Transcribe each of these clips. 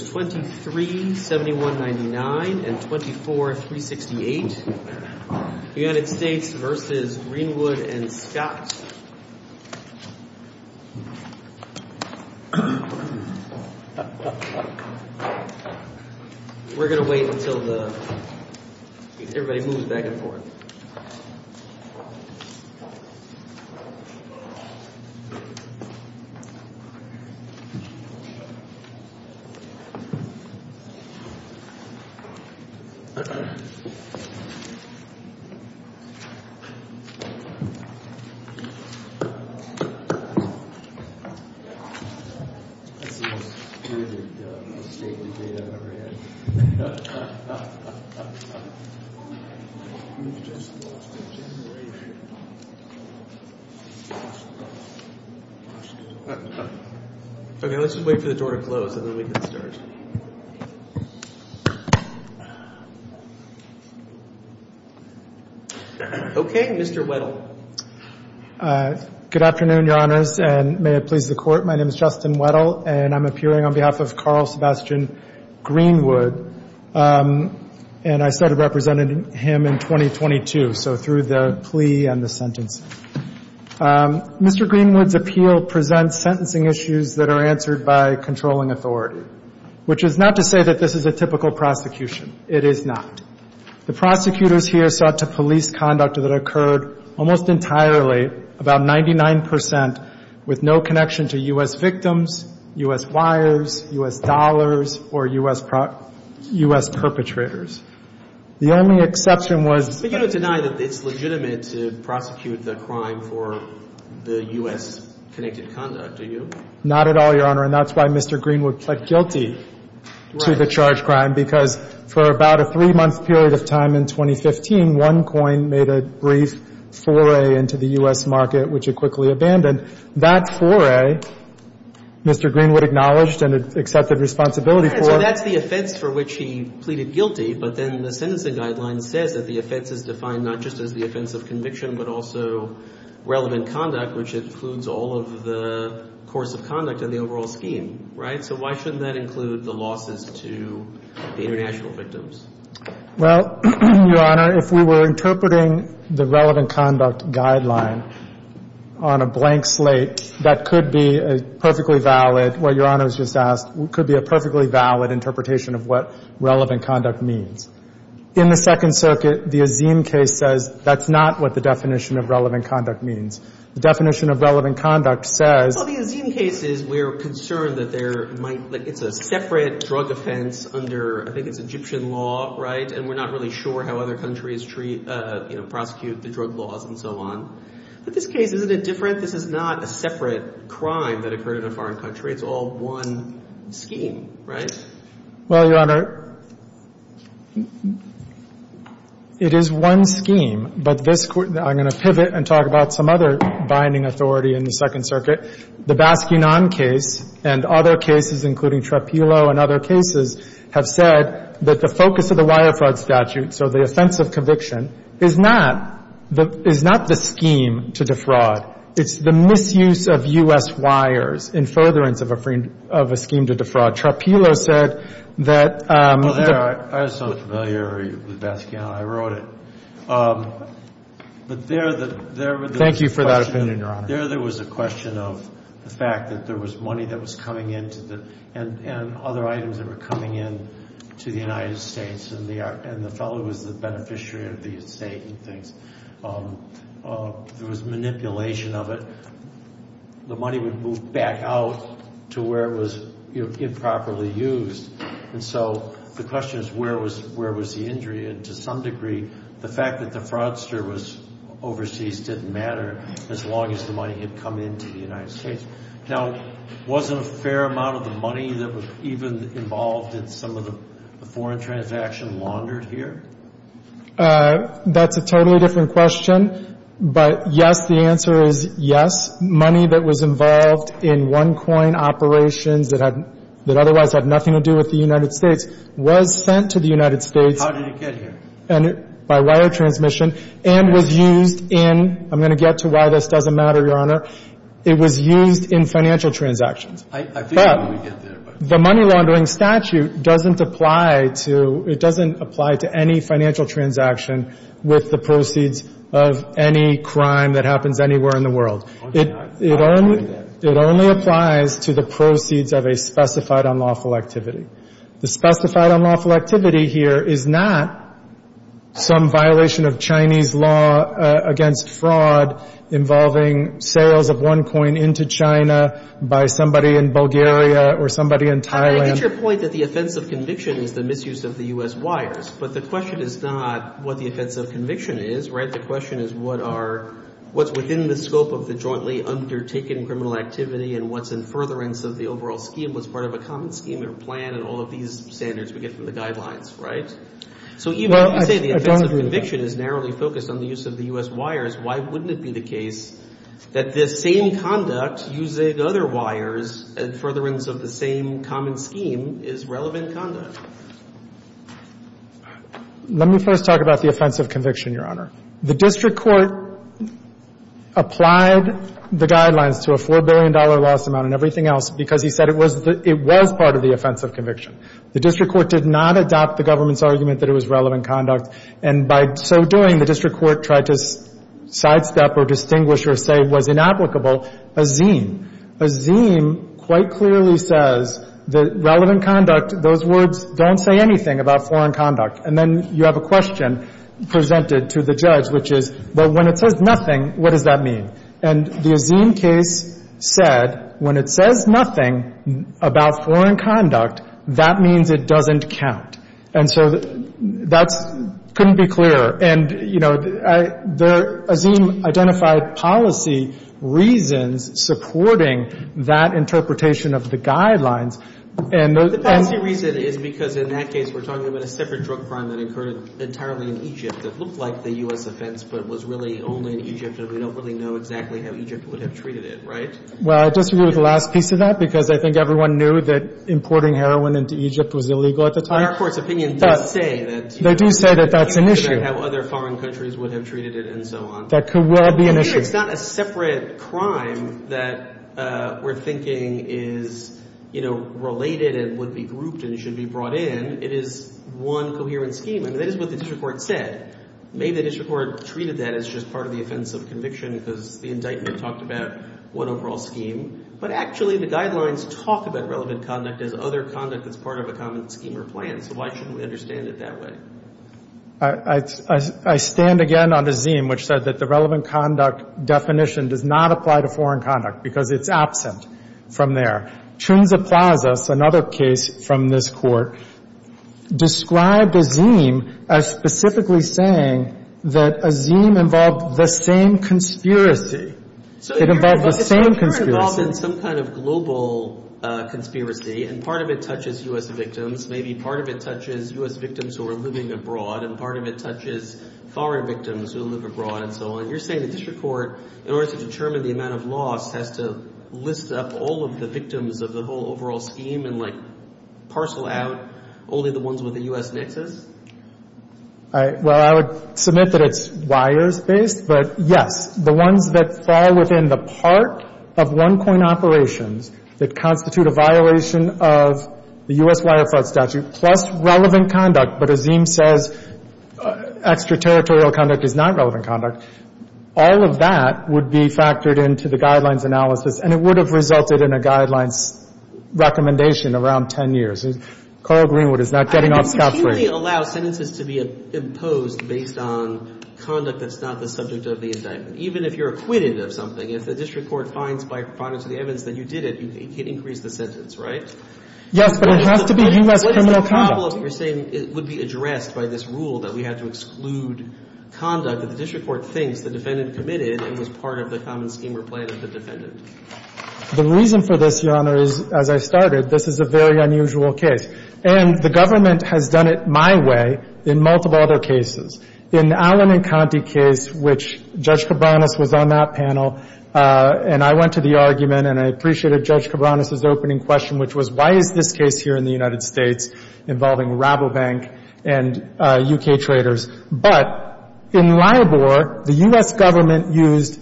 237199 and 24368. United States v. Greenwood and Scott. We're going to wait until the everybody moves back and forth. Okay. Let's just wait for the door to close and then we can start. Okay. Mr. Weddle. Good afternoon, Your Honors, and may it please the Court. My name is Justin Weddle, and I'm appearing on behalf of Carl Sebastian Greenwood. And I started representing him in 2022, so through the plea and the sentence. Mr. Greenwood's appeal presents sentencing issues that are answered by controlling authority, which is not to say that this is a typical prosecution. It is not. The prosecutors here sought to police conduct that occurred almost entirely, about 99 percent, with no connection to U.S. victims, U.S. wives, U.S. dollars, or U.S. perpetrators. The only exception was — But you don't deny that it's legitimate to prosecute the crime for the U.S. connected conduct, do you? Not at all, Your Honor, and that's why Mr. Greenwood pled guilty to the charged crime, because for about a three-month period of time in 2015, one coin made a brief foray into the U.S. market, which it quickly abandoned. That foray, Mr. Greenwood acknowledged and accepted responsibility for. So that's the offense for which he pleaded guilty, but then the sentencing guideline says that the offense is defined not just as the offense of conviction, but also relevant conduct, which includes all of the course of conduct and the overall scheme, right? So why shouldn't that include the losses to the international victims? Well, Your Honor, if we were interpreting the relevant conduct guideline on a blank slate, that could be a perfectly valid — what Your Honor has just asked could be a perfectly valid interpretation of what relevant conduct means. In the Second Circuit, the Azeem case says that's not what the definition of relevant conduct means. The definition of relevant conduct says — Well, the Azeem case is we're concerned that there might — like, it's a separate drug offense under — I think it's Egyptian law, right? And we're not really sure how other countries treat — you know, prosecute the drug laws and so on. But this case, isn't it different? This is not a separate crime that occurred in a foreign country. It's all one scheme, right? Well, Your Honor, it is one scheme, but this — I'm going to pivot and talk about some other binding authority in the Second Circuit. The Baskinan case and other cases, including Trapillo and other cases, have said that the focus of the wire fraud statute, so the offense of conviction, is not — is not the scheme to defraud. It's the misuse of U.S. wires in furtherance of a scheme to defraud. Trapillo said that — Well, there, I was so familiar with Baskinan, I wrote it. But there, there was a question — Thank you for that opinion, Your Honor. There, there was a question of the fact that there was money that was coming in to the — and other items that were coming in to the United States, and the — and the fellow who was the beneficiary of the estate and things. There was manipulation of it. The money would move back out to where it was improperly used. And so the question is, where was — where was the injury? And to some degree, the fact that the fraudster was overseas didn't matter as long as the money had come into the United States. Now, wasn't a fair amount of the money that was even involved in some of the foreign transactions laundered here? That's a totally different question. But, yes, the answer is yes. Money that was involved in one-coin operations that had — that otherwise had nothing to do with the United States was sent to the United States. How did it get here? By wire transmission and was used in — I'm going to get to why this doesn't matter, Your Honor. It was used in financial transactions. I figured we would get there, but — But the money laundering statute doesn't apply to — it doesn't apply to any financial transaction with the proceeds of any crime that happens anywhere in the world. It only — it only applies to the proceeds of a specified unlawful activity. The specified unlawful activity here is not some violation of Chinese law against fraud involving sales of one coin into China by somebody in Bulgaria or somebody in Thailand. I get your point that the offense of conviction is the misuse of the U.S. wires, but the question is not what the offense of conviction is, right? The question is what are — what's within the scope of the jointly undertaken criminal activity and what's in furtherance of the overall scheme? What's part of a common scheme or plan and all of these standards we get from the guidelines, right? So even if you say the offense of conviction is narrowly focused on the use of the U.S. wires, why wouldn't it be the case that this same conduct using other wires and furtherance of the same common scheme is relevant conduct? Let me first talk about the offense of conviction, Your Honor. The district court applied the guidelines to a $4 billion loss amount and everything else because he said it was the — it was part of the offense of conviction. The district court did not adopt the government's argument that it was relevant conduct, and by so doing, the district court tried to sidestep or distinguish or say it was inapplicable a zine. A zine quite clearly says that relevant conduct, those words don't say anything about foreign conduct. And then you have a question presented to the judge, which is, well, when it says nothing, what does that mean? And the zine case said when it says nothing about foreign conduct, that means it doesn't count. And so that's — couldn't be clearer. And, you know, the — a zine identified policy reasons supporting that interpretation of the guidelines. The policy reason is because in that case we're talking about a separate drug crime that occurred entirely in Egypt that looked like the U.S. offense but was really only in Egypt and we don't really know exactly how Egypt would have treated it, right? Well, I disagree with the last piece of that because I think everyone knew that importing heroin into Egypt was illegal at the time. Our court's opinion does say that — They do say that that's an issue. — how other foreign countries would have treated it and so on. That could well be an issue. It's not a separate crime that we're thinking is, you know, related and would be grouped and should be brought in. It is one coherent scheme. I mean, that is what the district court said. Maybe the district court treated that as just part of the offense of conviction because the indictment talked about one overall scheme. But actually the guidelines talk about relevant conduct as other conduct that's part of a common scheme or plan. So why shouldn't we understand it that way? I stand again on Azeem, which said that the relevant conduct definition does not apply to foreign conduct because it's absent from there. Chunza Plaza, another case from this court, described Azeem as specifically saying that Azeem involved the same conspiracy. It involved the same conspiracy. So it's somewhat involved in some kind of global conspiracy and part of it touches U.S. victims. Maybe part of it touches U.S. victims who are living abroad and part of it touches foreign victims who live abroad and so on. You're saying the district court, in order to determine the amount of loss, has to list up all of the victims of the whole overall scheme and, like, parcel out only the ones with a U.S. nexus? Well, I would submit that it's wires-based. But, yes, the ones that fall within the part of one-point operations that constitute a violation of the U.S. Wire Fraud Statute plus relevant conduct, but Azeem says extraterritorial conduct is not relevant conduct, all of that would be factored into the Guidelines analysis and it would have resulted in a Guidelines recommendation around 10 years. Carl Greenwood is not getting off scot-free. I mean, you can't really allow sentences to be imposed based on conduct that's not the subject of the indictment. Even if you're acquitted of something, if the district court finds by proponents of the evidence that you did it, you can increase the sentence, right? Yes, but it has to be U.S. criminal conduct. What is the problem? You're saying it would be addressed by this rule that we have to exclude conduct that the district court thinks the defendant committed and was part of the common scheme or plan of the defendant. The reason for this, Your Honor, is, as I started, this is a very unusual case. And the government has done it my way in multiple other cases. In the Allen and Conte case, which Judge Cabranes was on that panel, and I went to the argument, and I appreciated Judge Cabranes' opening question, which was, why is this case here in the United States involving Rabobank and U.K. traders? But in Libor, the U.S. government used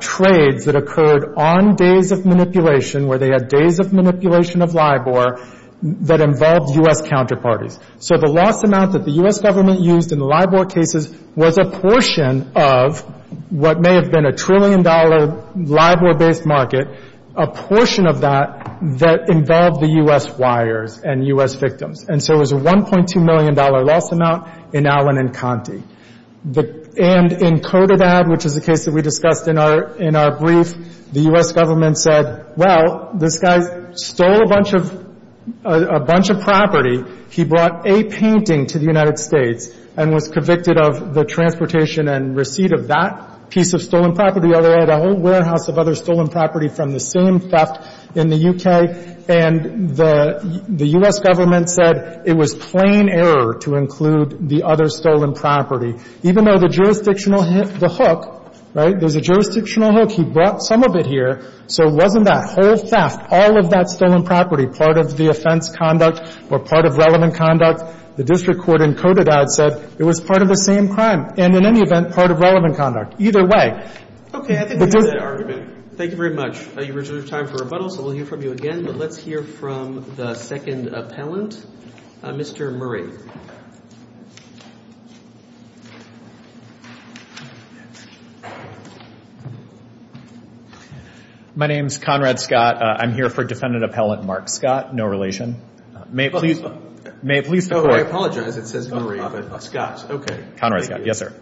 trades that occurred on days of manipulation, where they had days of manipulation of Libor, that involved U.S. counterparties. So the loss amount that the U.S. government used in the Libor cases was a portion of what may have been a trillion-dollar Libor-based market, a portion of that that involved the U.S. wires and U.S. victims. And so it was a $1.2 million loss amount in Allen and Conte. And in Cotabab, which is a case that we discussed in our brief, the U.S. government said, well, this guy stole a bunch of property. He brought a painting to the United States and was convicted of the transportation and receipt of that piece of stolen property. Oh, they had a whole warehouse of other stolen property from the same theft in the U.K. And the U.S. government said it was plain error to include the other stolen property, even though the jurisdictional hook, right, there's a jurisdictional hook. He brought some of it here, so it wasn't that whole theft. All of that stolen property, part of the offense conduct or part of relevant conduct, the district court in Cotabab said it was part of the same crime and, in any event, part of relevant conduct, either way. Okay. I think we've used that argument. Thank you very much. You've reserved time for rebuttal, so we'll hear from you again, but let's hear from the second appellant, Mr. Murray. My name's Conrad Scott. I'm here for Defendant Appellant Mark Scott. No relation. May it please the Court. Oh, I apologize. It says Murray, but Scott. Okay. Conrad Scott. Yes, sir.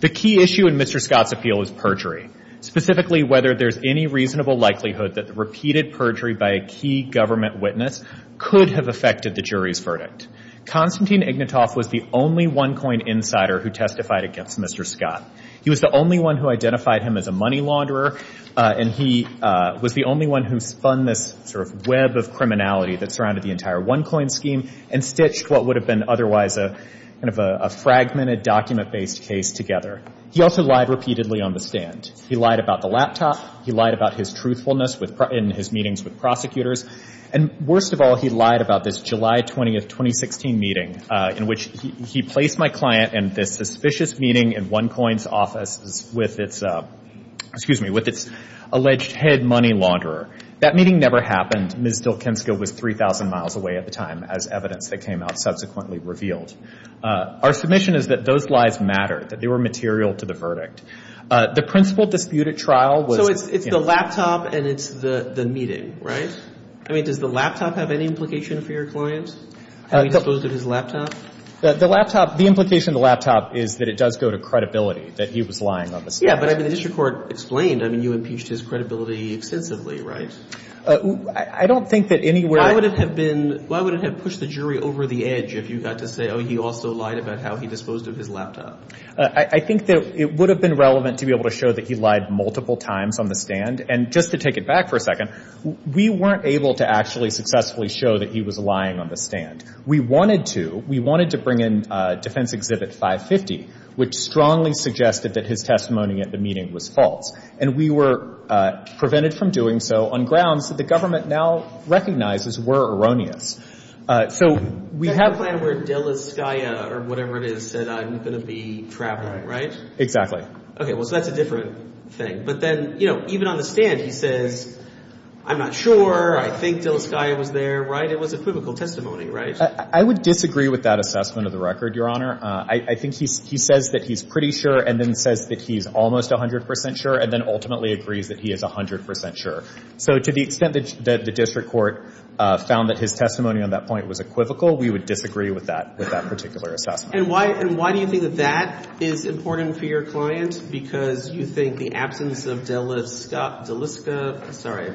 The key issue in Mr. Scott's appeal is perjury, specifically whether there's any reasonable likelihood that the repeated perjury by a key government witness could have affected the jury's verdict. Conrad Scott's appeal is perjury. Constantine Ignatoff was the only one-coin insider who testified against Mr. Scott. He was the only one who identified him as a money launderer, and he was the only one who spun this sort of web of criminality that surrounded the entire one-coin scheme and stitched what would have been otherwise kind of a fragmented, document-based case together. He also lied repeatedly on the stand. He lied about the laptop. He lied about his truthfulness in his meetings with prosecutors. And worst of all, he lied about this July 20, 2016 meeting in which he placed my client in this suspicious meeting in one-coin's office with its alleged head money launderer. That meeting never happened. Ms. Dilkensko was 3,000 miles away at the time as evidence that came out subsequently revealed. Our submission is that those lies mattered, that they were material to the verdict. The principal dispute at trial was... So it's the laptop and it's the meeting, right? I mean, does the laptop have any implication for your client? How he disposed of his laptop? The laptop, the implication of the laptop is that it does go to credibility that he was lying on the stand. Yeah, but I mean, the district court explained. I mean, you impeached his credibility extensively, right? I don't think that anywhere... Why would it have been... Why would it have pushed the jury over the edge if you got to say, oh, he also lied about how he disposed of his laptop? I think that it would have been relevant to be able to show that he lied multiple times on the stand. And just to take it back for a second, we weren't able to actually successfully show that he was lying on the stand. We wanted to. We wanted to bring in Defense Exhibit 550, which strongly suggested that his testimony at the meeting was false. And we were prevented from doing so on grounds that the government now recognizes were erroneous. So we have... That's the plan where de la Skaia or whatever it is said I'm going to be traveling, right? Exactly. Okay, well, so that's a different thing. But then, you know, even on the stand, he says, I'm not sure, I think de la Skaia was there, right? It was equivocal testimony, right? I would disagree with that assessment of the record, Your Honor. I think he says that he's pretty sure and then says that he's almost 100% sure and then ultimately agrees that he is 100% sure. So to the extent that the district court found that his testimony on that point was equivocal, we would disagree with that particular assessment. And why do you think that that is important for your client? Because you think the absence of de la Skaia... Sorry.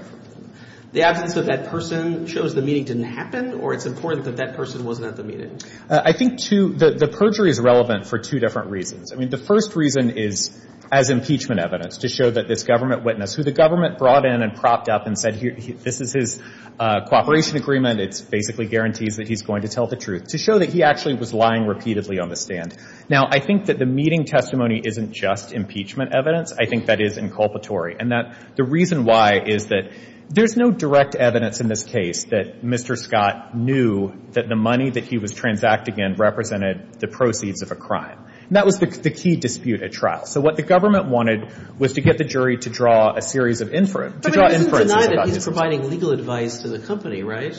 The absence of that person shows the meeting didn't happen or it's important that that person wasn't at the meeting? I think the perjury is relevant for two different reasons. I mean, the first reason is as impeachment evidence to show that this government witness, who the government brought in and propped up and said, this is his cooperation agreement, it basically guarantees that he's going to tell the truth, to show that he actually was lying repeatedly on the stand. Now, I think that the meeting testimony isn't just impeachment evidence. I think that is inculpatory. And the reason why is that there's no direct evidence in this case that Mr. Scott knew that the money that he was transacting in represented the proceeds of a crime. And that was the key dispute at trial. So what the government wanted was to get the jury to draw a series of inferences... But he doesn't deny that he's providing legal advice to the company, right?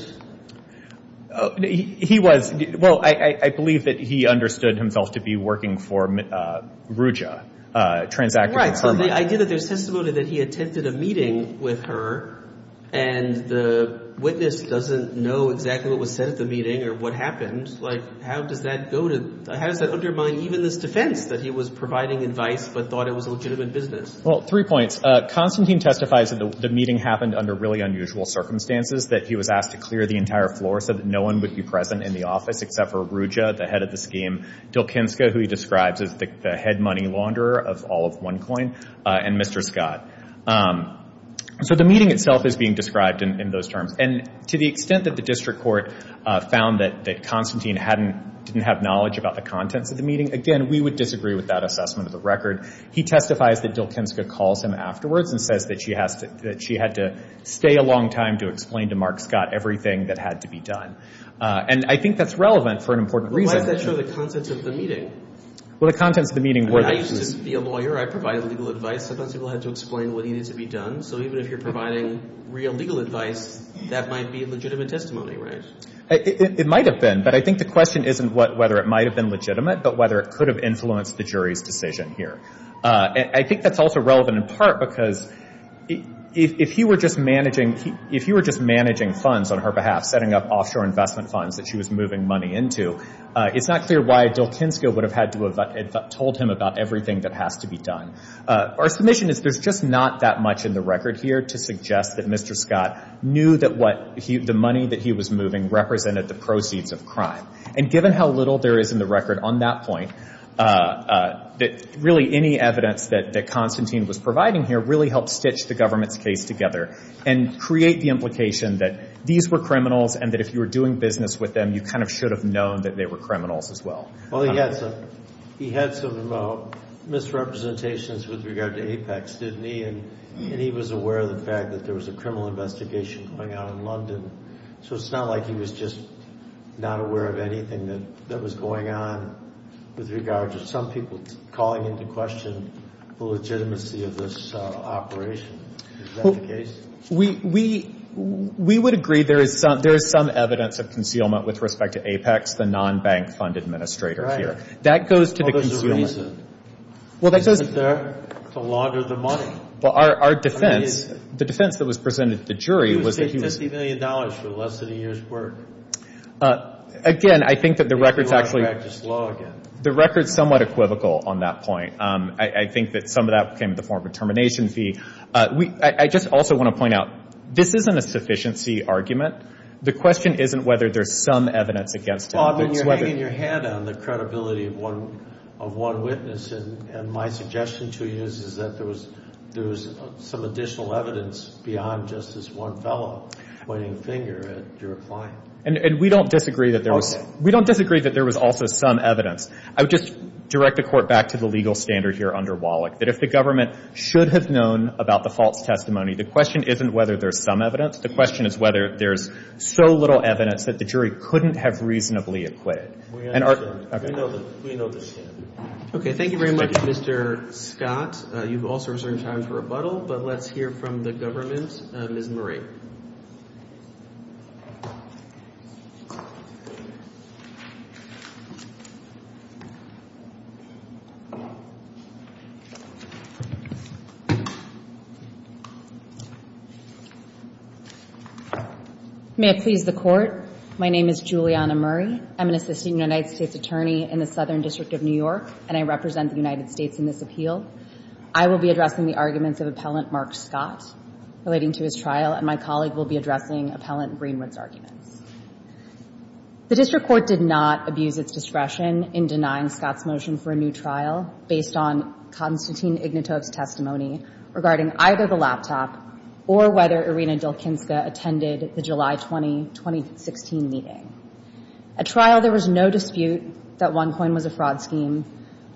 He was... Well, I believe that he understood himself to be working for Ruja, transacting from her money. Right. So the idea that there's testimony that he attended a meeting with her and the witness doesn't know exactly what was said at the meeting or what happened, like, how does that go to... How does that undermine even this defense that he was providing advice but thought it was a legitimate business? Well, three points. Constantine testifies that the meeting happened under really unusual circumstances, that he was asked to clear the entire floor so that no one would be present in the office except for Ruja, the head of the scheme, Dilkinska, who he describes as the head money launderer of all of OneCoin, and Mr. Scott. So the meeting itself is being described in those terms. And to the extent that the district court found that Constantine didn't have knowledge about the contents of the meeting, again, we would disagree with that assessment of the record. He testifies that Dilkinska calls him afterwards and says that she had to stay a long time to explain to Mark Scott everything that had to be done. And I think that's relevant for an important reason. Why does that show the contents of the meeting? Well, the contents of the meeting were... I used to be a lawyer. I provided legal advice. Sometimes people had to explain what needed to be done. So even if you're providing real legal advice, that might be a legitimate testimony, right? It might have been, but I think the question isn't whether it might have been legitimate but whether it could have influenced the jury's decision here. I think that's also relevant in part because if he were just managing... if he were just managing funds on her behalf, setting up offshore investment funds that she was moving money into, it's not clear why Dilkinska would have had to have told him about everything that has to be done. Our submission is there's just not that much in the record here to suggest that Mr. Scott knew that what he... the money that he was moving represented the proceeds of crime. And given how little there is in the record on that point, that really any evidence that Constantine was providing here really helped stitch the government's case together. And create the implication that these were criminals and that if you were doing business with them, you kind of should have known that they were criminals as well. Well, he had some misrepresentations with regard to Apex, didn't he? And he was aware of the fact that there was a criminal investigation going on in London. So it's not like he was just not aware of anything that was going on with regard to some people calling into question the legitimacy of this operation. Is that the case? We would agree there is some evidence of concealment with respect to Apex, the non-bank fund administrator here. Right. That goes to the concealment. Well, there's a reason. Well, that goes... To launder the money. Well, our defense... The defense that was presented to the jury was that he was... He was taking $50 million for less than a year's work. Again, I think that the record's actually... If you want to practice law again. The record's somewhat equivocal on that point. I think that some of that came in the form of a termination fee. I just also want to point out, this isn't a sufficiency argument. The question isn't whether there's some evidence against Apex. Well, I mean, you're hanging your head on the credibility of one witness. And my suggestion to you is that there was some additional evidence beyond just this one fellow pointing a finger at your client. And we don't disagree that there was... Okay. We don't disagree that there was also some evidence. I would just direct the Court back to the legal standard here under Wallach, that if the government should have known about the false testimony, the question isn't whether there's some evidence. The question is whether there's so little evidence that the jury couldn't have reasonably acquitted. We understand. We know the standard. Okay. Thank you very much, Mr. Scott. You've also reserved time for rebuttal, but let's hear from the government. Ms. Murray. May it please the Court. My name is Julianna Murray. I'm an assistant United States attorney in the Southern District of New York, and I represent the United States in this appeal. I will be addressing the arguments of Appellant Mark Scott relating to his trial, and my colleague will be addressing Appellant Greenwood's arguments. The district court did not abuse its discretion in denying Scott's motion for a new trial based on Konstantin Ignatov's testimony regarding either the laptop or whether Irina Dilkinska attended the July 20, 2016 meeting. At trial, there was no dispute that OneCoin was a fraud scheme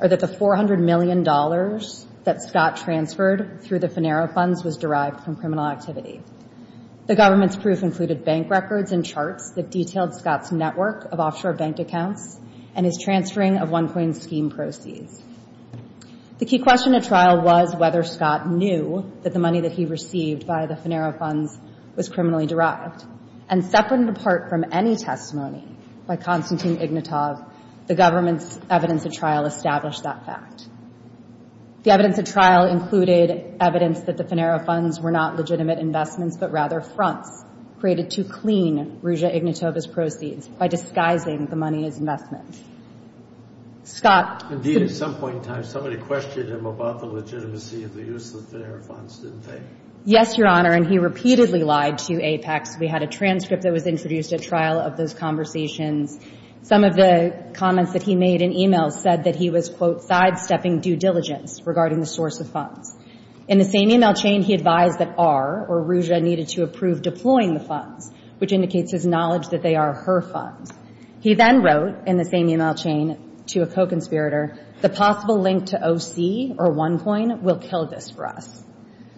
or that the $400 million that Scott transferred through the Finero funds was derived from criminal activity. The government's proof included bank records and charts that detailed Scott's network of offshore bank accounts and his transferring of OneCoin's scheme proceeds. The key question at trial was whether Scott knew that the money that he received by the Finero funds was criminally derived, and separate and apart from any testimony by Konstantin Ignatov, the government's evidence at trial established that fact. The evidence at trial included evidence that the Finero funds were not legitimate investments but rather fronts created to clean Ruja Ignatov's proceeds by disguising the money as investments. Scott. Indeed, at some point in time, somebody questioned him about the legitimacy of the use of the Finero funds, didn't they? Yes, Your Honor, and he repeatedly lied to Apex. We had a transcript that was introduced at trial of those conversations. Some of the comments that he made in email said that he was, quote, sidestepping due diligence regarding the source of funds. In the same email chain, he advised that R, or Ruja, needed to approve deploying the funds, which indicates his knowledge that they are her funds. He then wrote, in the same email chain, to a co-conspirator, the possible link to O.C. or OneCoin will kill this for us.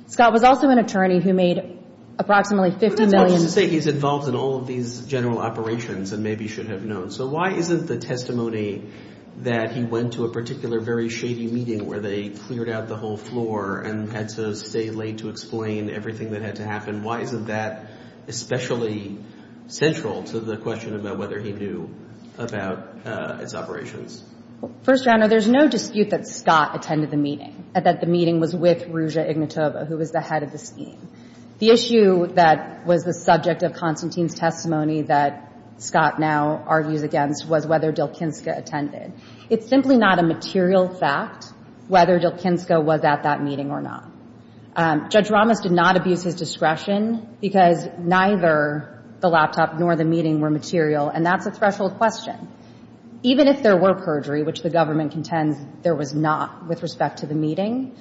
Scott was also an attorney who made approximately $50 million. But that's not to say he's involved in all of these general operations and maybe should have known. So why isn't the testimony that he went to a particular very shady meeting where they cleared out the whole floor and had to stay late to explain everything that had to happen, why isn't that especially central to the question about whether he knew about its operations? First, Your Honor, there's no dispute that Scott attended the meeting, that the meeting was with Ruja Ignatova, who was the head of the scheme. The issue that was the subject of Constantine's testimony that Scott now argues against was whether Dylkinska attended. It's simply not a material fact whether Dylkinska was at that meeting or not. Judge Ramos did not abuse his discretion because neither the laptop nor the meeting were material, and that's a threshold question. Even if there were perjury, which the government contends there was not with respect to the meeting,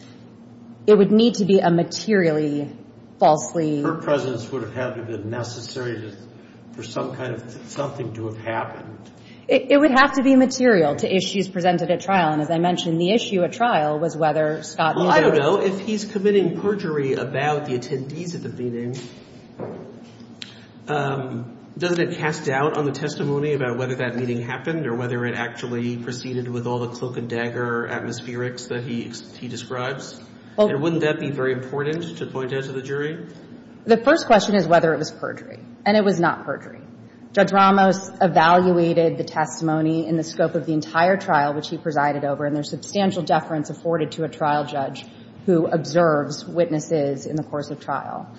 it would need to be a materially falsely... Her presence would have had to have been necessary for some kind of something to have happened. It would have to be material to issues presented at trial. And as I mentioned, the issue at trial was whether Scott... Well, I don't know. If he's committing perjury about the attendees at the meeting, doesn't it cast doubt on the testimony about whether that meeting happened or whether it actually proceeded with all the cloak-and-dagger atmospherics that he describes? And wouldn't that be very important to point out to the jury? The first question is whether it was perjury, and it was not perjury. Judge Ramos evaluated the testimony in the scope of the entire trial, which he presided over, and there's substantial deference afforded to a trial judge who observes witnesses in the course of trial.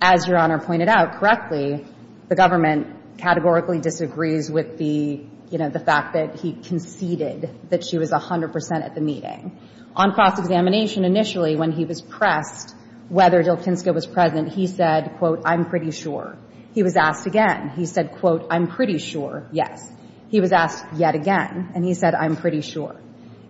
As Your Honor pointed out correctly, the government categorically disagrees with the, you know, the fact that he conceded that she was 100 percent at the meeting. On cross-examination, initially, when he was pressed whether Jalkinska was present, he said, quote, I'm pretty sure. He was asked again. He said, quote, I'm pretty sure, yes. He was asked yet again, and he said, I'm pretty sure.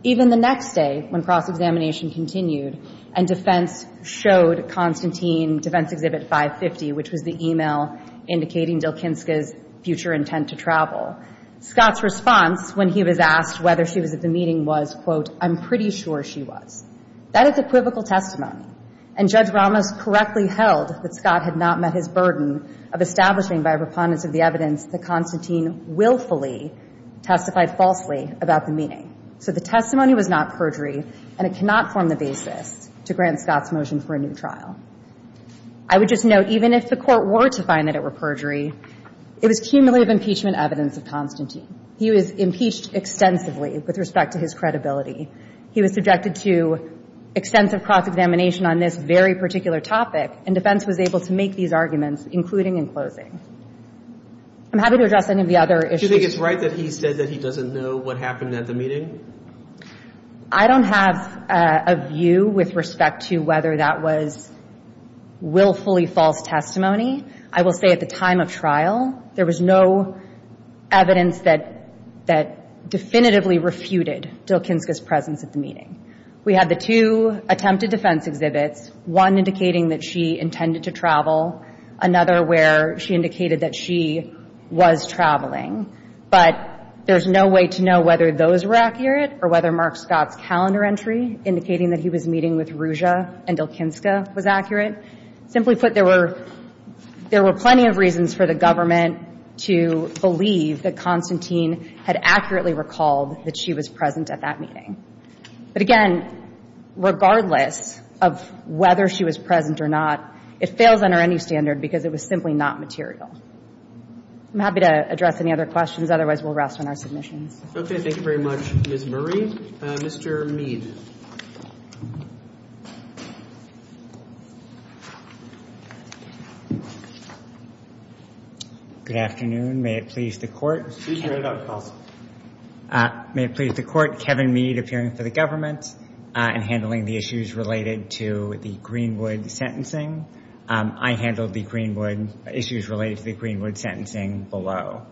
Even the next day, when cross-examination continued and defense showed Constantine defense exhibit 550, which was the e-mail indicating Jalkinska's future intent to travel, Scott's response when he was asked whether she was at the meeting was, quote, I'm pretty sure she was. That is equivocal testimony, and Judge Ramos correctly held that Scott had not met his burden of establishing by a preponderance of the evidence that Constantine willfully testified falsely about the meeting. So the testimony was not perjury, and it cannot form the basis to grant Scott's motion for a new trial. I would just note, even if the Court were to find that it were perjury, it was cumulative impeachment evidence of Constantine. He was impeached extensively with respect to his credibility. He was subjected to extensive cross-examination on this very particular topic, and defense was able to make these arguments, including in closing. I'm happy to address any of the other issues. Do you think it's right that he said that he doesn't know what happened at the meeting? I don't have a view with respect to whether that was willfully false testimony. I will say at the time of trial, there was no evidence that definitively refuted Jalkinska's presence at the meeting. We had the two attempted defense exhibits, one indicating that she intended to travel, another where she indicated that she was traveling. But there's no way to know whether those were accurate or whether Mark Scott's calendar entry indicating that he was meeting with Ruzsa and Jalkinska was accurate. Simply put, there were plenty of reasons for the government to believe that Constantine had accurately recalled that she was present at that meeting. But, again, regardless of whether she was present or not, it fails under any standard because it was simply not material. I'm happy to address any other questions. Otherwise, we'll rest on our submissions. Okay. Thank you very much, Ms. Murray. Mr. Mead. Good afternoon. May it please the Court. Excuse me, I got calls. May it please the Court. Kevin Mead, appearing for the government and handling the issues related to the Greenwood sentencing. I handled the Greenwood issues related to the Greenwood sentencing below.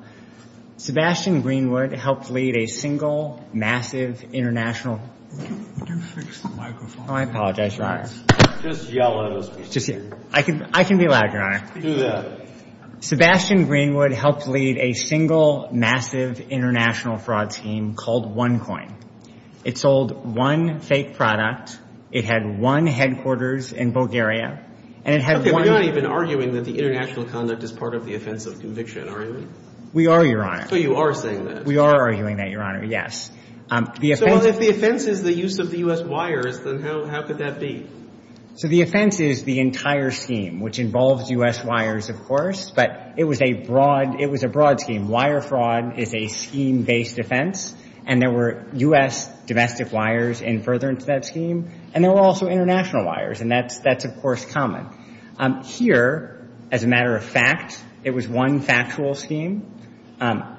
Sebastian Greenwood helped lead a single massive international Can you fix the microphone? Oh, I apologize, Your Honor. Just yell at us, please. I can be loud, Your Honor. Do that. Sebastian Greenwood helped lead a single massive international fraud scheme called OneCoin. It sold one fake product. It had one headquarters in Bulgaria. Okay, we're not even arguing that the international conduct is part of the offense of conviction, are we? We are, Your Honor. So you are saying that. We are arguing that, Your Honor, yes. So if the offense is the use of the U.S. wires, then how could that be? So the offense is the entire scheme, which involves U.S. wires, of course. But it was a broad scheme. Wire fraud is a scheme-based offense. And there were U.S. domestic wires in furtherance of that scheme. And there were also international wires. And that's, of course, common. Here, as a matter of fact, it was one factual scheme.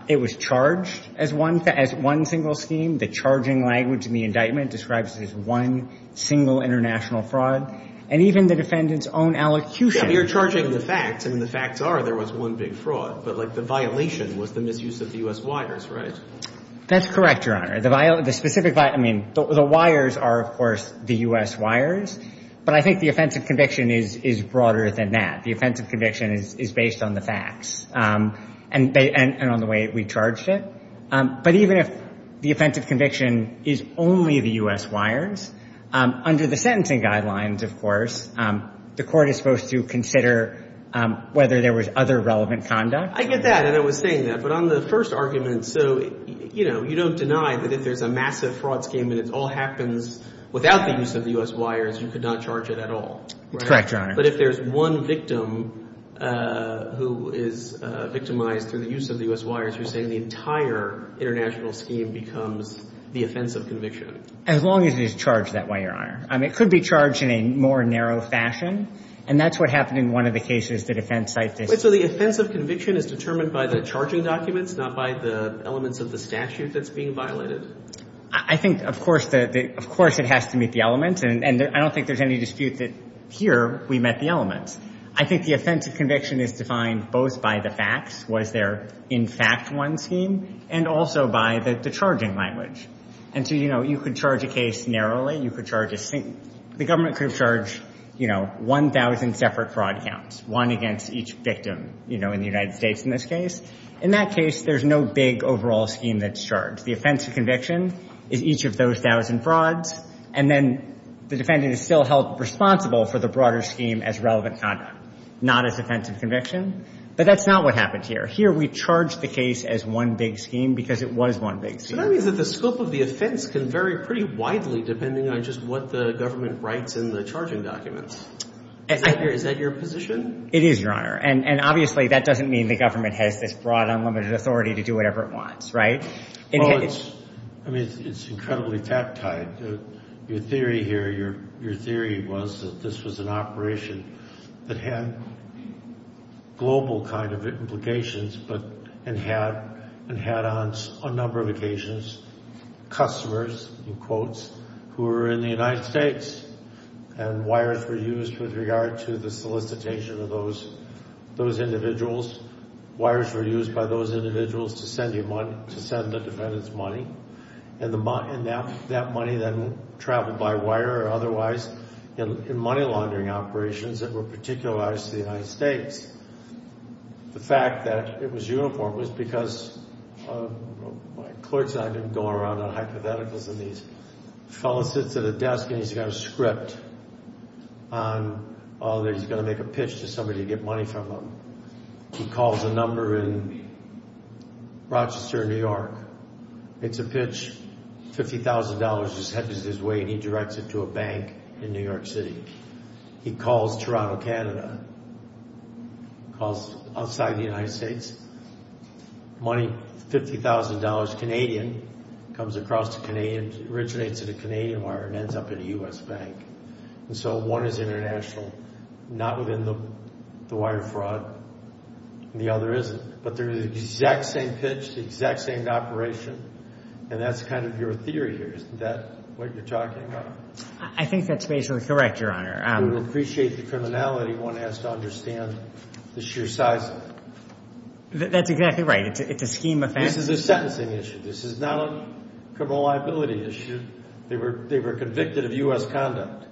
It was charged as one single scheme. The charging language in the indictment describes it as one single international fraud. And even the defendant's own allocution. Yeah, but you're charging the facts. I mean, the facts are there was one big fraud. But, like, the violation was the misuse of the U.S. wires, right? That's correct, Your Honor. The specific, I mean, the wires are, of course, the U.S. wires. But I think the offense of conviction is broader than that. The offense of conviction is based on the facts and on the way we charged it. But even if the offense of conviction is only the U.S. wires, under the sentencing guidelines, of course, the court is supposed to consider whether there was other relevant conduct. I get that, and I was saying that. But on the first argument, so, you know, you don't deny that if there's a massive fraud scheme and it all happens without the use of the U.S. wires, you could not charge it at all. That's correct, Your Honor. But if there's one victim who is victimized through the use of the U.S. wires, you're saying the entire international scheme becomes the offense of conviction. As long as it is charged that way, Your Honor. I mean, it could be charged in a more narrow fashion, and that's what happened in one of the cases the defense cited. So the offense of conviction is determined by the charging documents, not by the elements of the statute that's being violated? I think, of course, it has to meet the elements, and I don't think there's any dispute that here we met the elements. I think the offense of conviction is defined both by the facts, was there in fact one scheme, and also by the charging language. And so, you know, you could charge a case narrowly. You could charge a single. The government could charge, you know, 1,000 separate fraud counts, one against each victim, you know, in the United States in this case. In that case, there's no big overall scheme that's charged. The offense of conviction is each of those 1,000 frauds, and then the defendant is still held responsible for the broader scheme as relevant conduct, not as offense of conviction. But that's not what happened here. Here we charged the case as one big scheme because it was one big scheme. So that means that the scope of the offense can vary pretty widely depending on just what the government writes in the charging documents. Is that your position? It is, Your Honor. And obviously that doesn't mean the government has this broad, unlimited authority to do whatever it wants, right? Well, I mean, it's incredibly tactile. Your theory here, your theory was that this was an operation that had global kind of implications and had on a number of occasions customers, in quotes, who were in the United States. And wires were used with regard to the solicitation of those individuals. Wires were used by those individuals to send the defendants money. And that money then traveled by wire or otherwise in money laundering operations that were particularized to the United States. The fact that it was uniform was because my clerks and I have been going around on hypotheticals, and this fellow sits at a desk and he's got a script on, oh, he's going to make a pitch to somebody to get money from him. He calls a number in Rochester, New York. It's a pitch, $50,000 just hedges his way and he directs it to a bank in New York City. He calls Toronto, Canada, calls outside the United States. Money, $50,000, Canadian, comes across to Canadians, originates in a Canadian wire and ends up in a U.S. bank. And so one is international, not within the wire fraud, and the other isn't. But they're the exact same pitch, the exact same operation, and that's kind of your theory here, isn't that what you're talking about? I think that's basically correct, Your Honor. We appreciate the criminality one has to understand the sheer size of it. That's exactly right. It's a scheme of facts. This is a sentencing issue. This is not a criminal liability issue. They were convicted of U.S. conduct.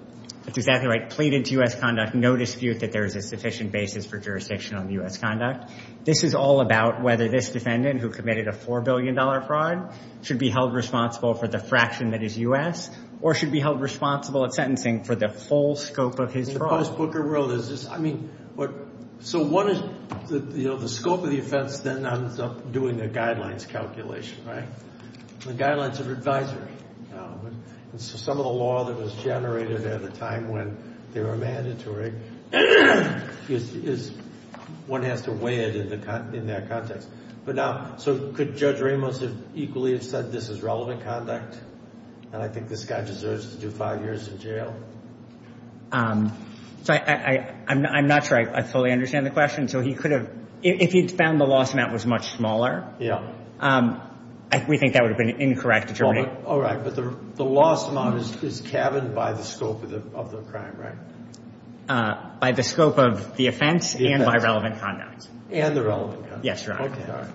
That's exactly right. Pleaded to U.S. conduct. No dispute that there is a sufficient basis for jurisdiction on U.S. conduct. This is all about whether this defendant, who committed a $4 billion fraud, should be held responsible for the fraction that is U.S. or should be held responsible at sentencing for the full scope of his fraud. In the post-Booker world, is this, I mean, so one is the scope of the offense then ends up doing the guidelines calculation, right? The guidelines of advisory. Some of the law that was generated at the time when they were mandatory, one has to weigh it in that context. But now, so could Judge Ramos have equally said this is relevant conduct and I think this guy deserves to do five years in jail? I'm not sure I fully understand the question. So he could have, if he found the loss amount was much smaller, we think that would have been incorrect to terminate. All right. But the loss amount is calved by the scope of the crime, right? By the scope of the offense and by relevant conduct. And the relevant conduct. Yes, Your Honor. Okay.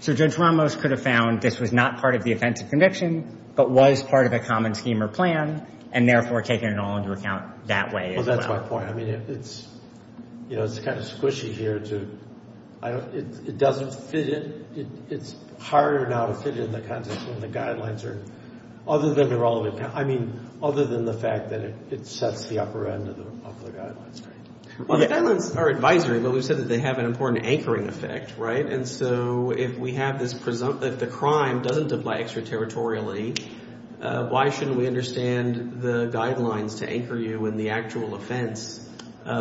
So Judge Ramos could have found this was not part of the offense of conviction but was part of a common scheme or plan and therefore taken it all into account that way as well. Well, that's my point. I mean, it's kind of squishy here. It doesn't fit in. It's harder now to fit in the context when the guidelines are other than the relevant. I mean, other than the fact that it sets the upper end of the guidelines, right? Well, the guidelines are advisory, but we've said that they have an important anchoring effect, right? And so if we have this presumption that the crime doesn't apply extraterritorially, why shouldn't we understand the guidelines to anchor you in the actual offense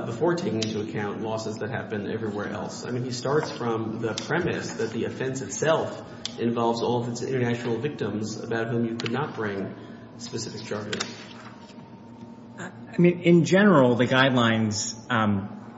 before taking into account losses that happen everywhere else? I mean, he starts from the premise that the offense itself involves all of its international victims about whom you could not bring specific charges. I mean, in general, the guidelines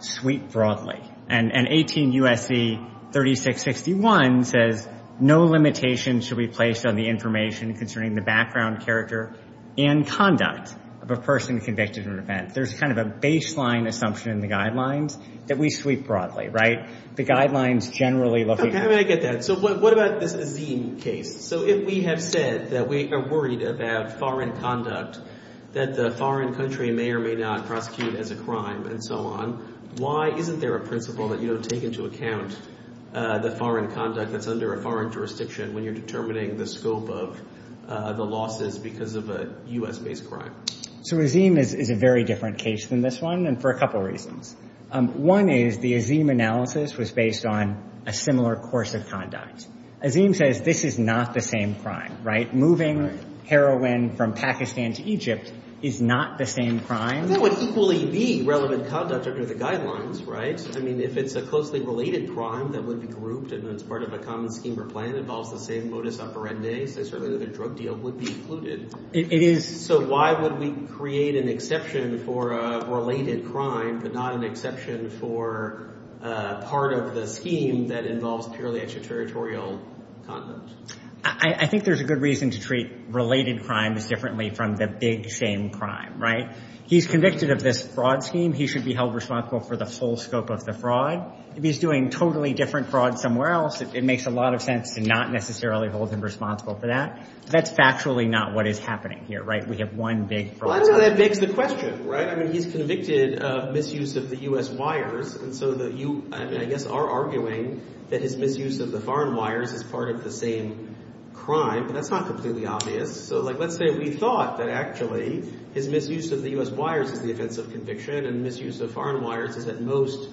sweep broadly. And 18 U.S.C. 3661 says no limitation should be placed on the information concerning the background, character, and conduct of a person convicted of an event. There's kind of a baseline assumption in the guidelines that we sweep broadly, right? The guidelines generally look at that. So what about this Azeem case? So if we have said that we are worried about foreign conduct, that the foreign country may or may not prosecute as a crime and so on, why isn't there a principle that you don't take into account the foreign conduct that's under a foreign jurisdiction when you're determining the scope of the losses because of a U.S.-based crime? So Azeem is a very different case than this one and for a couple of reasons. One is the Azeem analysis was based on a similar course of conduct. Azeem says this is not the same crime, right? Moving heroin from Pakistan to Egypt is not the same crime. That would equally be relevant conduct under the guidelines, right? I mean, if it's a closely related crime that would be grouped and it's part of a common scheme or plan that involves the same modus operandi, so certainly the drug deal would be included. It is. So why would we create an exception for a related crime but not an exception for part of the scheme that involves purely extraterritorial conduct? I think there's a good reason to treat related crimes differently from the big same crime, right? He's convicted of this fraud scheme. He should be held responsible for the full scope of the fraud. If he's doing totally different fraud somewhere else, it makes a lot of sense to not necessarily hold him responsible for that. That's factually not what is happening here, right? We have one big fraud. I don't know if that begs the question, right? I mean, he's convicted of misuse of the U.S. wires, and so you, I guess, are arguing that his misuse of the foreign wires is part of the same crime, but that's not completely obvious. So, like, let's say we thought that actually his misuse of the U.S. wires is the offense of conviction and misuse of foreign wires is at most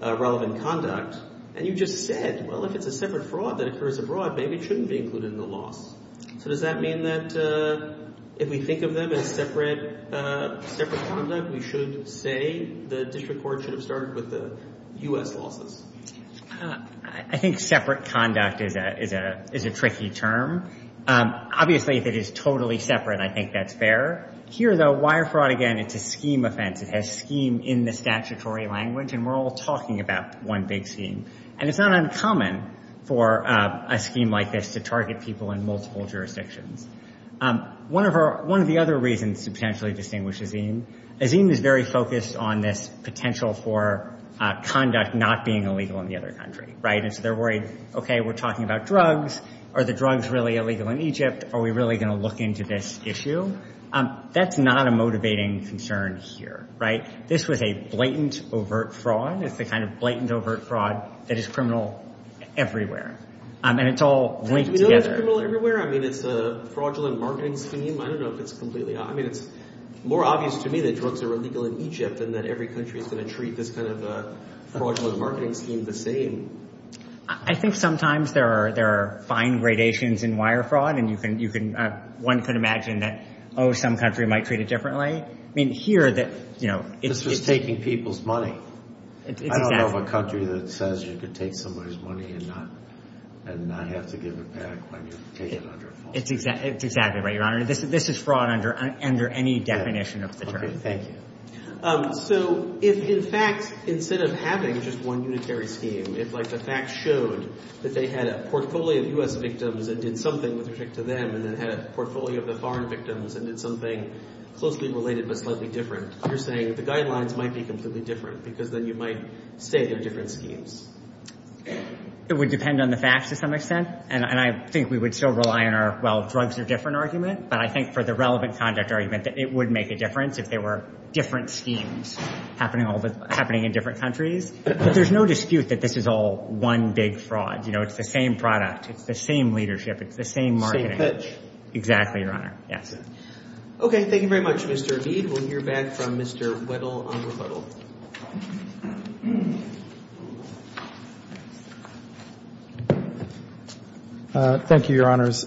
relevant conduct, and you just said, well, if it's a separate fraud that occurs abroad, maybe it shouldn't be included in the loss. So does that mean that if we think of them as separate conduct, we should say the district court should have started with the U.S. losses? I think separate conduct is a tricky term. Obviously, if it is totally separate, I think that's fair. Here, though, wire fraud, again, it's a scheme offense. It has scheme in the statutory language, and we're all talking about one big scheme, and it's not uncommon for a scheme like this to target people in multiple jurisdictions. One of the other reasons to potentially distinguish Azeem, Azeem is very focused on this potential for conduct not being illegal in the other country, right? And so they're worried, okay, we're talking about drugs. Are the drugs really illegal in Egypt? Are we really going to look into this issue? That's not a motivating concern here, right? This was a blatant, overt fraud. It's the kind of blatant, overt fraud that is criminal everywhere, and it's all linked together. It's criminal everywhere. I mean, it's a fraudulent marketing scheme. I don't know if it's completely obvious. It's more obvious to me that drugs are illegal in Egypt and that every country is going to treat this kind of fraudulent marketing scheme the same. I think sometimes there are fine gradations in wire fraud, and one could imagine that, oh, some country might treat it differently. This was taking people's money. I don't know of a country that says you could take somebody's money and not have to give it back when you take it under a fault. It's exactly right, Your Honor. This is fraud under any definition of the term. Okay, thank you. So if, in fact, instead of having just one unitary scheme, if the facts showed that they had a portfolio of U.S. victims that did something with respect to them and then had a portfolio of the foreign victims and did something closely related but slightly different, you're saying the guidelines might be completely different because then you might state they're different schemes. It would depend on the facts to some extent, and I think we would still rely on our, well, drugs are different argument, but I think for the relevant conduct argument that it would make a difference if there were different schemes happening in different countries. But there's no dispute that this is all one big fraud. It's the same product. It's the same leadership. It's the same marketing. Exactly, Your Honor. Yes. Okay. Thank you very much, Mr. Abid. We'll hear back from Mr. Weddle on refutal. Thank you, Your Honors.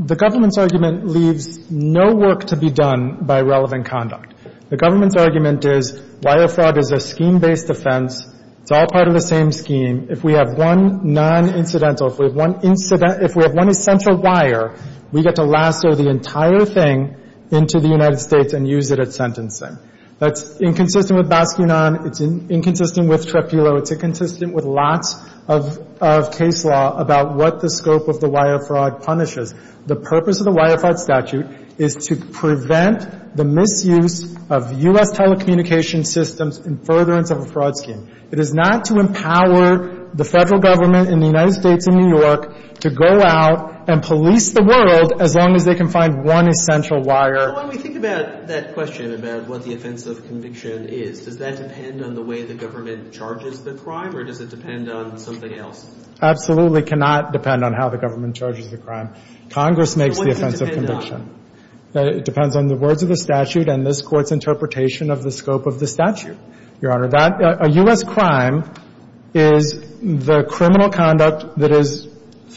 The government's argument leaves no work to be done by relevant conduct. The government's argument is wire fraud is a scheme-based offense. It's all part of the same scheme. If we have one non-incidental, if we have one essential wire, we get to lasso the entire thing into the United States and use it at sentencing. That's inconsistent with Basquinan. It's inconsistent with Trepillo. It's inconsistent with lots of case law about what the scope of the wire fraud punishes. The purpose of the wire fraud statute is to prevent the misuse of U.S. telecommunications systems in furtherance of a fraud scheme. It is not to empower the federal government in the United States and New York to go out and police the world as long as they can find one essential wire. When we think about that question about what the offense of conviction is, does that depend on the way the government charges the crime or does it depend on something else? Absolutely cannot depend on how the government charges the crime. Congress makes the offense of conviction. It depends on the words of the statute and this Court's interpretation of the scope of the statute. Your Honor, a U.S. crime is the criminal conduct that is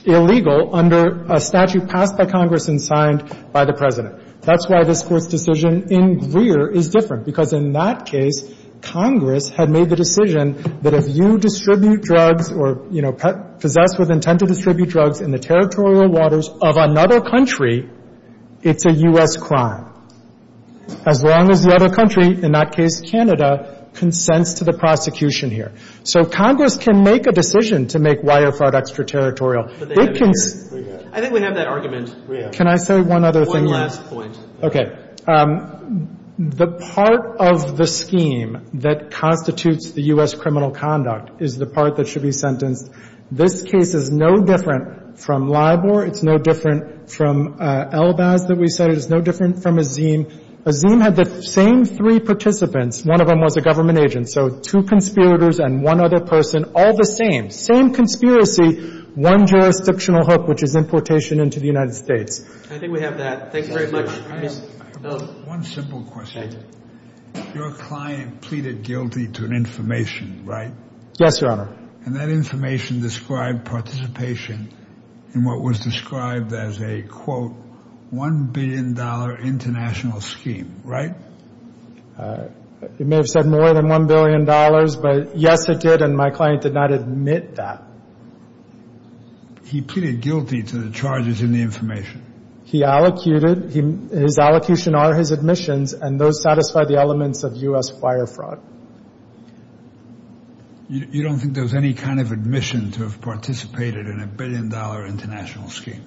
illegal under a statute passed by Congress and signed by the President. That's why this Court's decision in Greer is different because in that case, Congress had made the decision that if you distribute drugs or, you know, possess with intent to distribute drugs in the territorial waters of another country, it's a U.S. crime. As long as the other country, in that case Canada, consents to the prosecution here. So Congress can make a decision to make wire fraud extraterritorial. But they can't. I think we have that argument. Can I say one other thing? One last point. Okay. The part of the scheme that constitutes the U.S. criminal conduct is the part that should be sentenced. This case is no different from LIBOR. It's no different from ELBAS that we cited. It's no different from Azeem. Azeem had the same three participants. One of them was a government agent. So two conspirators and one other person, all the same, same conspiracy, one jurisdictional hook, which is importation into the United States. I think we have that. Thank you very much. One simple question. Your client pleaded guilty to an information, right? Yes, Your Honor. And that information described participation in what was described as a, quote, $1 billion international scheme, right? You may have said more than $1 billion, but, yes, it did, and my client did not admit that. He pleaded guilty to the charges in the information. He allocated. His allocution are his admissions, and those satisfy the elements of U.S. wire fraud. You don't think there was any kind of admission to have participated in a $1 billion international scheme?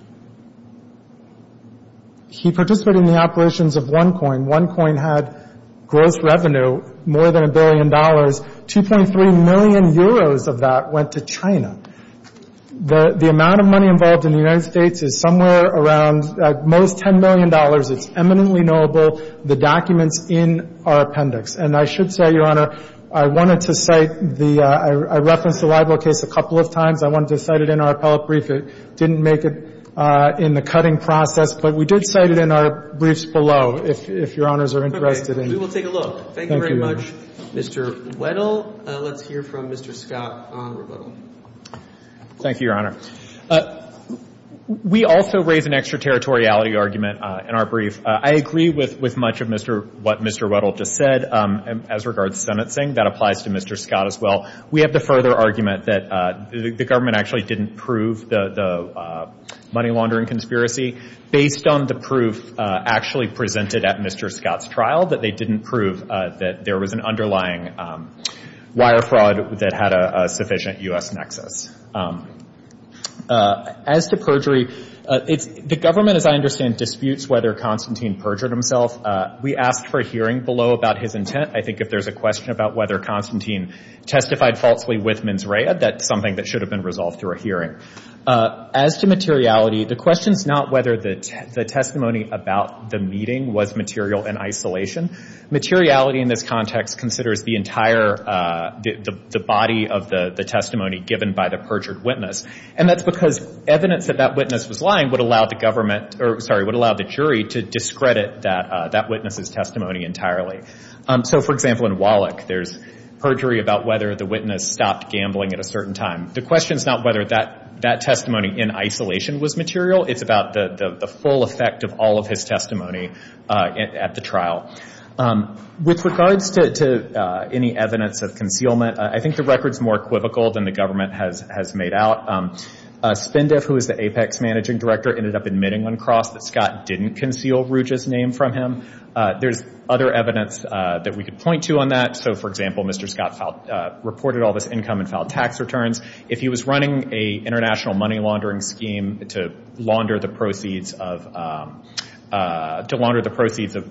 He participated in the operations of OneCoin. OneCoin had gross revenue more than $1 billion. 2.3 million euros of that went to China. The amount of money involved in the United States is somewhere around, at most, $10 million. It's eminently knowable. The documents in our appendix. And I should say, Your Honor, I wanted to cite the ‑‑ I referenced the libel case a couple of times. I wanted to cite it in our appellate brief. It didn't make it in the cutting process, but we did cite it in our briefs below, if Your Honors are interested in. We will take a look. Thank you very much, Mr. Weddle. Let's hear from Mr. Scott Onward-Weddle. Thank you, Your Honor. We also raise an extraterritoriality argument in our brief. I agree with much of what Mr. Weddle just said as regards sentencing. That applies to Mr. Scott as well. We have the further argument that the government actually didn't prove the money laundering conspiracy. Based on the proof actually presented at Mr. Scott's trial, that they didn't prove that there was an underlying wire fraud that had a sufficient U.S. nexus. As to perjury, the government, as I understand, disputes whether Constantine perjured himself. We asked for a hearing below about his intent. I think if there's a question about whether Constantine testified falsely with Mins Rea, that's something that should have been resolved through a hearing. As to materiality, the question is not whether the testimony about the meeting was material in isolation. Materiality in this context considers the entire body of the testimony given by the perjured witness. And that's because evidence that that witness was lying would allow the government, or sorry, would allow the jury to discredit that witness's testimony entirely. So, for example, in Wallach, there's perjury about whether the witness stopped gambling at a certain time. The question is not whether that testimony in isolation was material. It's about the full effect of all of his testimony at the trial. With regards to any evidence of concealment, I think the record's more equivocal than the government has made out. Spindiff, who is the APEC's managing director, ended up admitting on cross that Scott didn't conceal Ruge's name from him. There's other evidence that we could point to on that. So, for example, Mr. Scott reported all this income and filed tax returns. If he was running an international money laundering scheme to launder the proceeds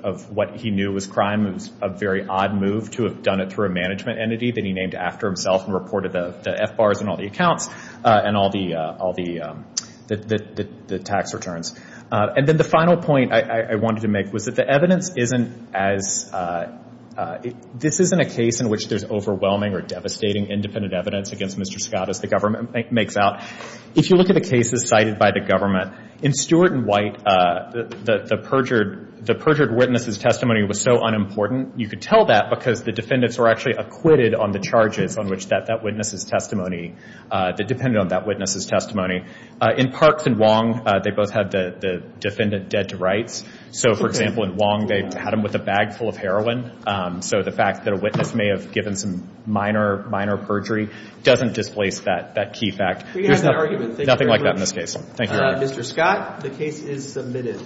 of what he knew was crime, it was a very odd move to have done it through a management entity that he named after himself and reported the FBARs on all the accounts and all the tax returns. And then the final point I wanted to make was that the evidence isn't as – this isn't a case in which there's overwhelming or devastating independent evidence against Mr. Scott as the government makes out. If you look at the cases cited by the government, in Stewart and White, the perjured witness's testimony was so unimportant, you could tell that because the defendants were actually acquitted on the charges on which that witness's testimony – that depended on that witness's testimony. In Parks and Wong, they both had the defendant dead to rights. So, for example, in Wong, they had him with a bag full of heroin. So the fact that a witness may have given some minor, minor perjury doesn't displace that key fact. There's nothing like that in this case. Thank you, Your Honor. Mr. Scott, the case is submitted.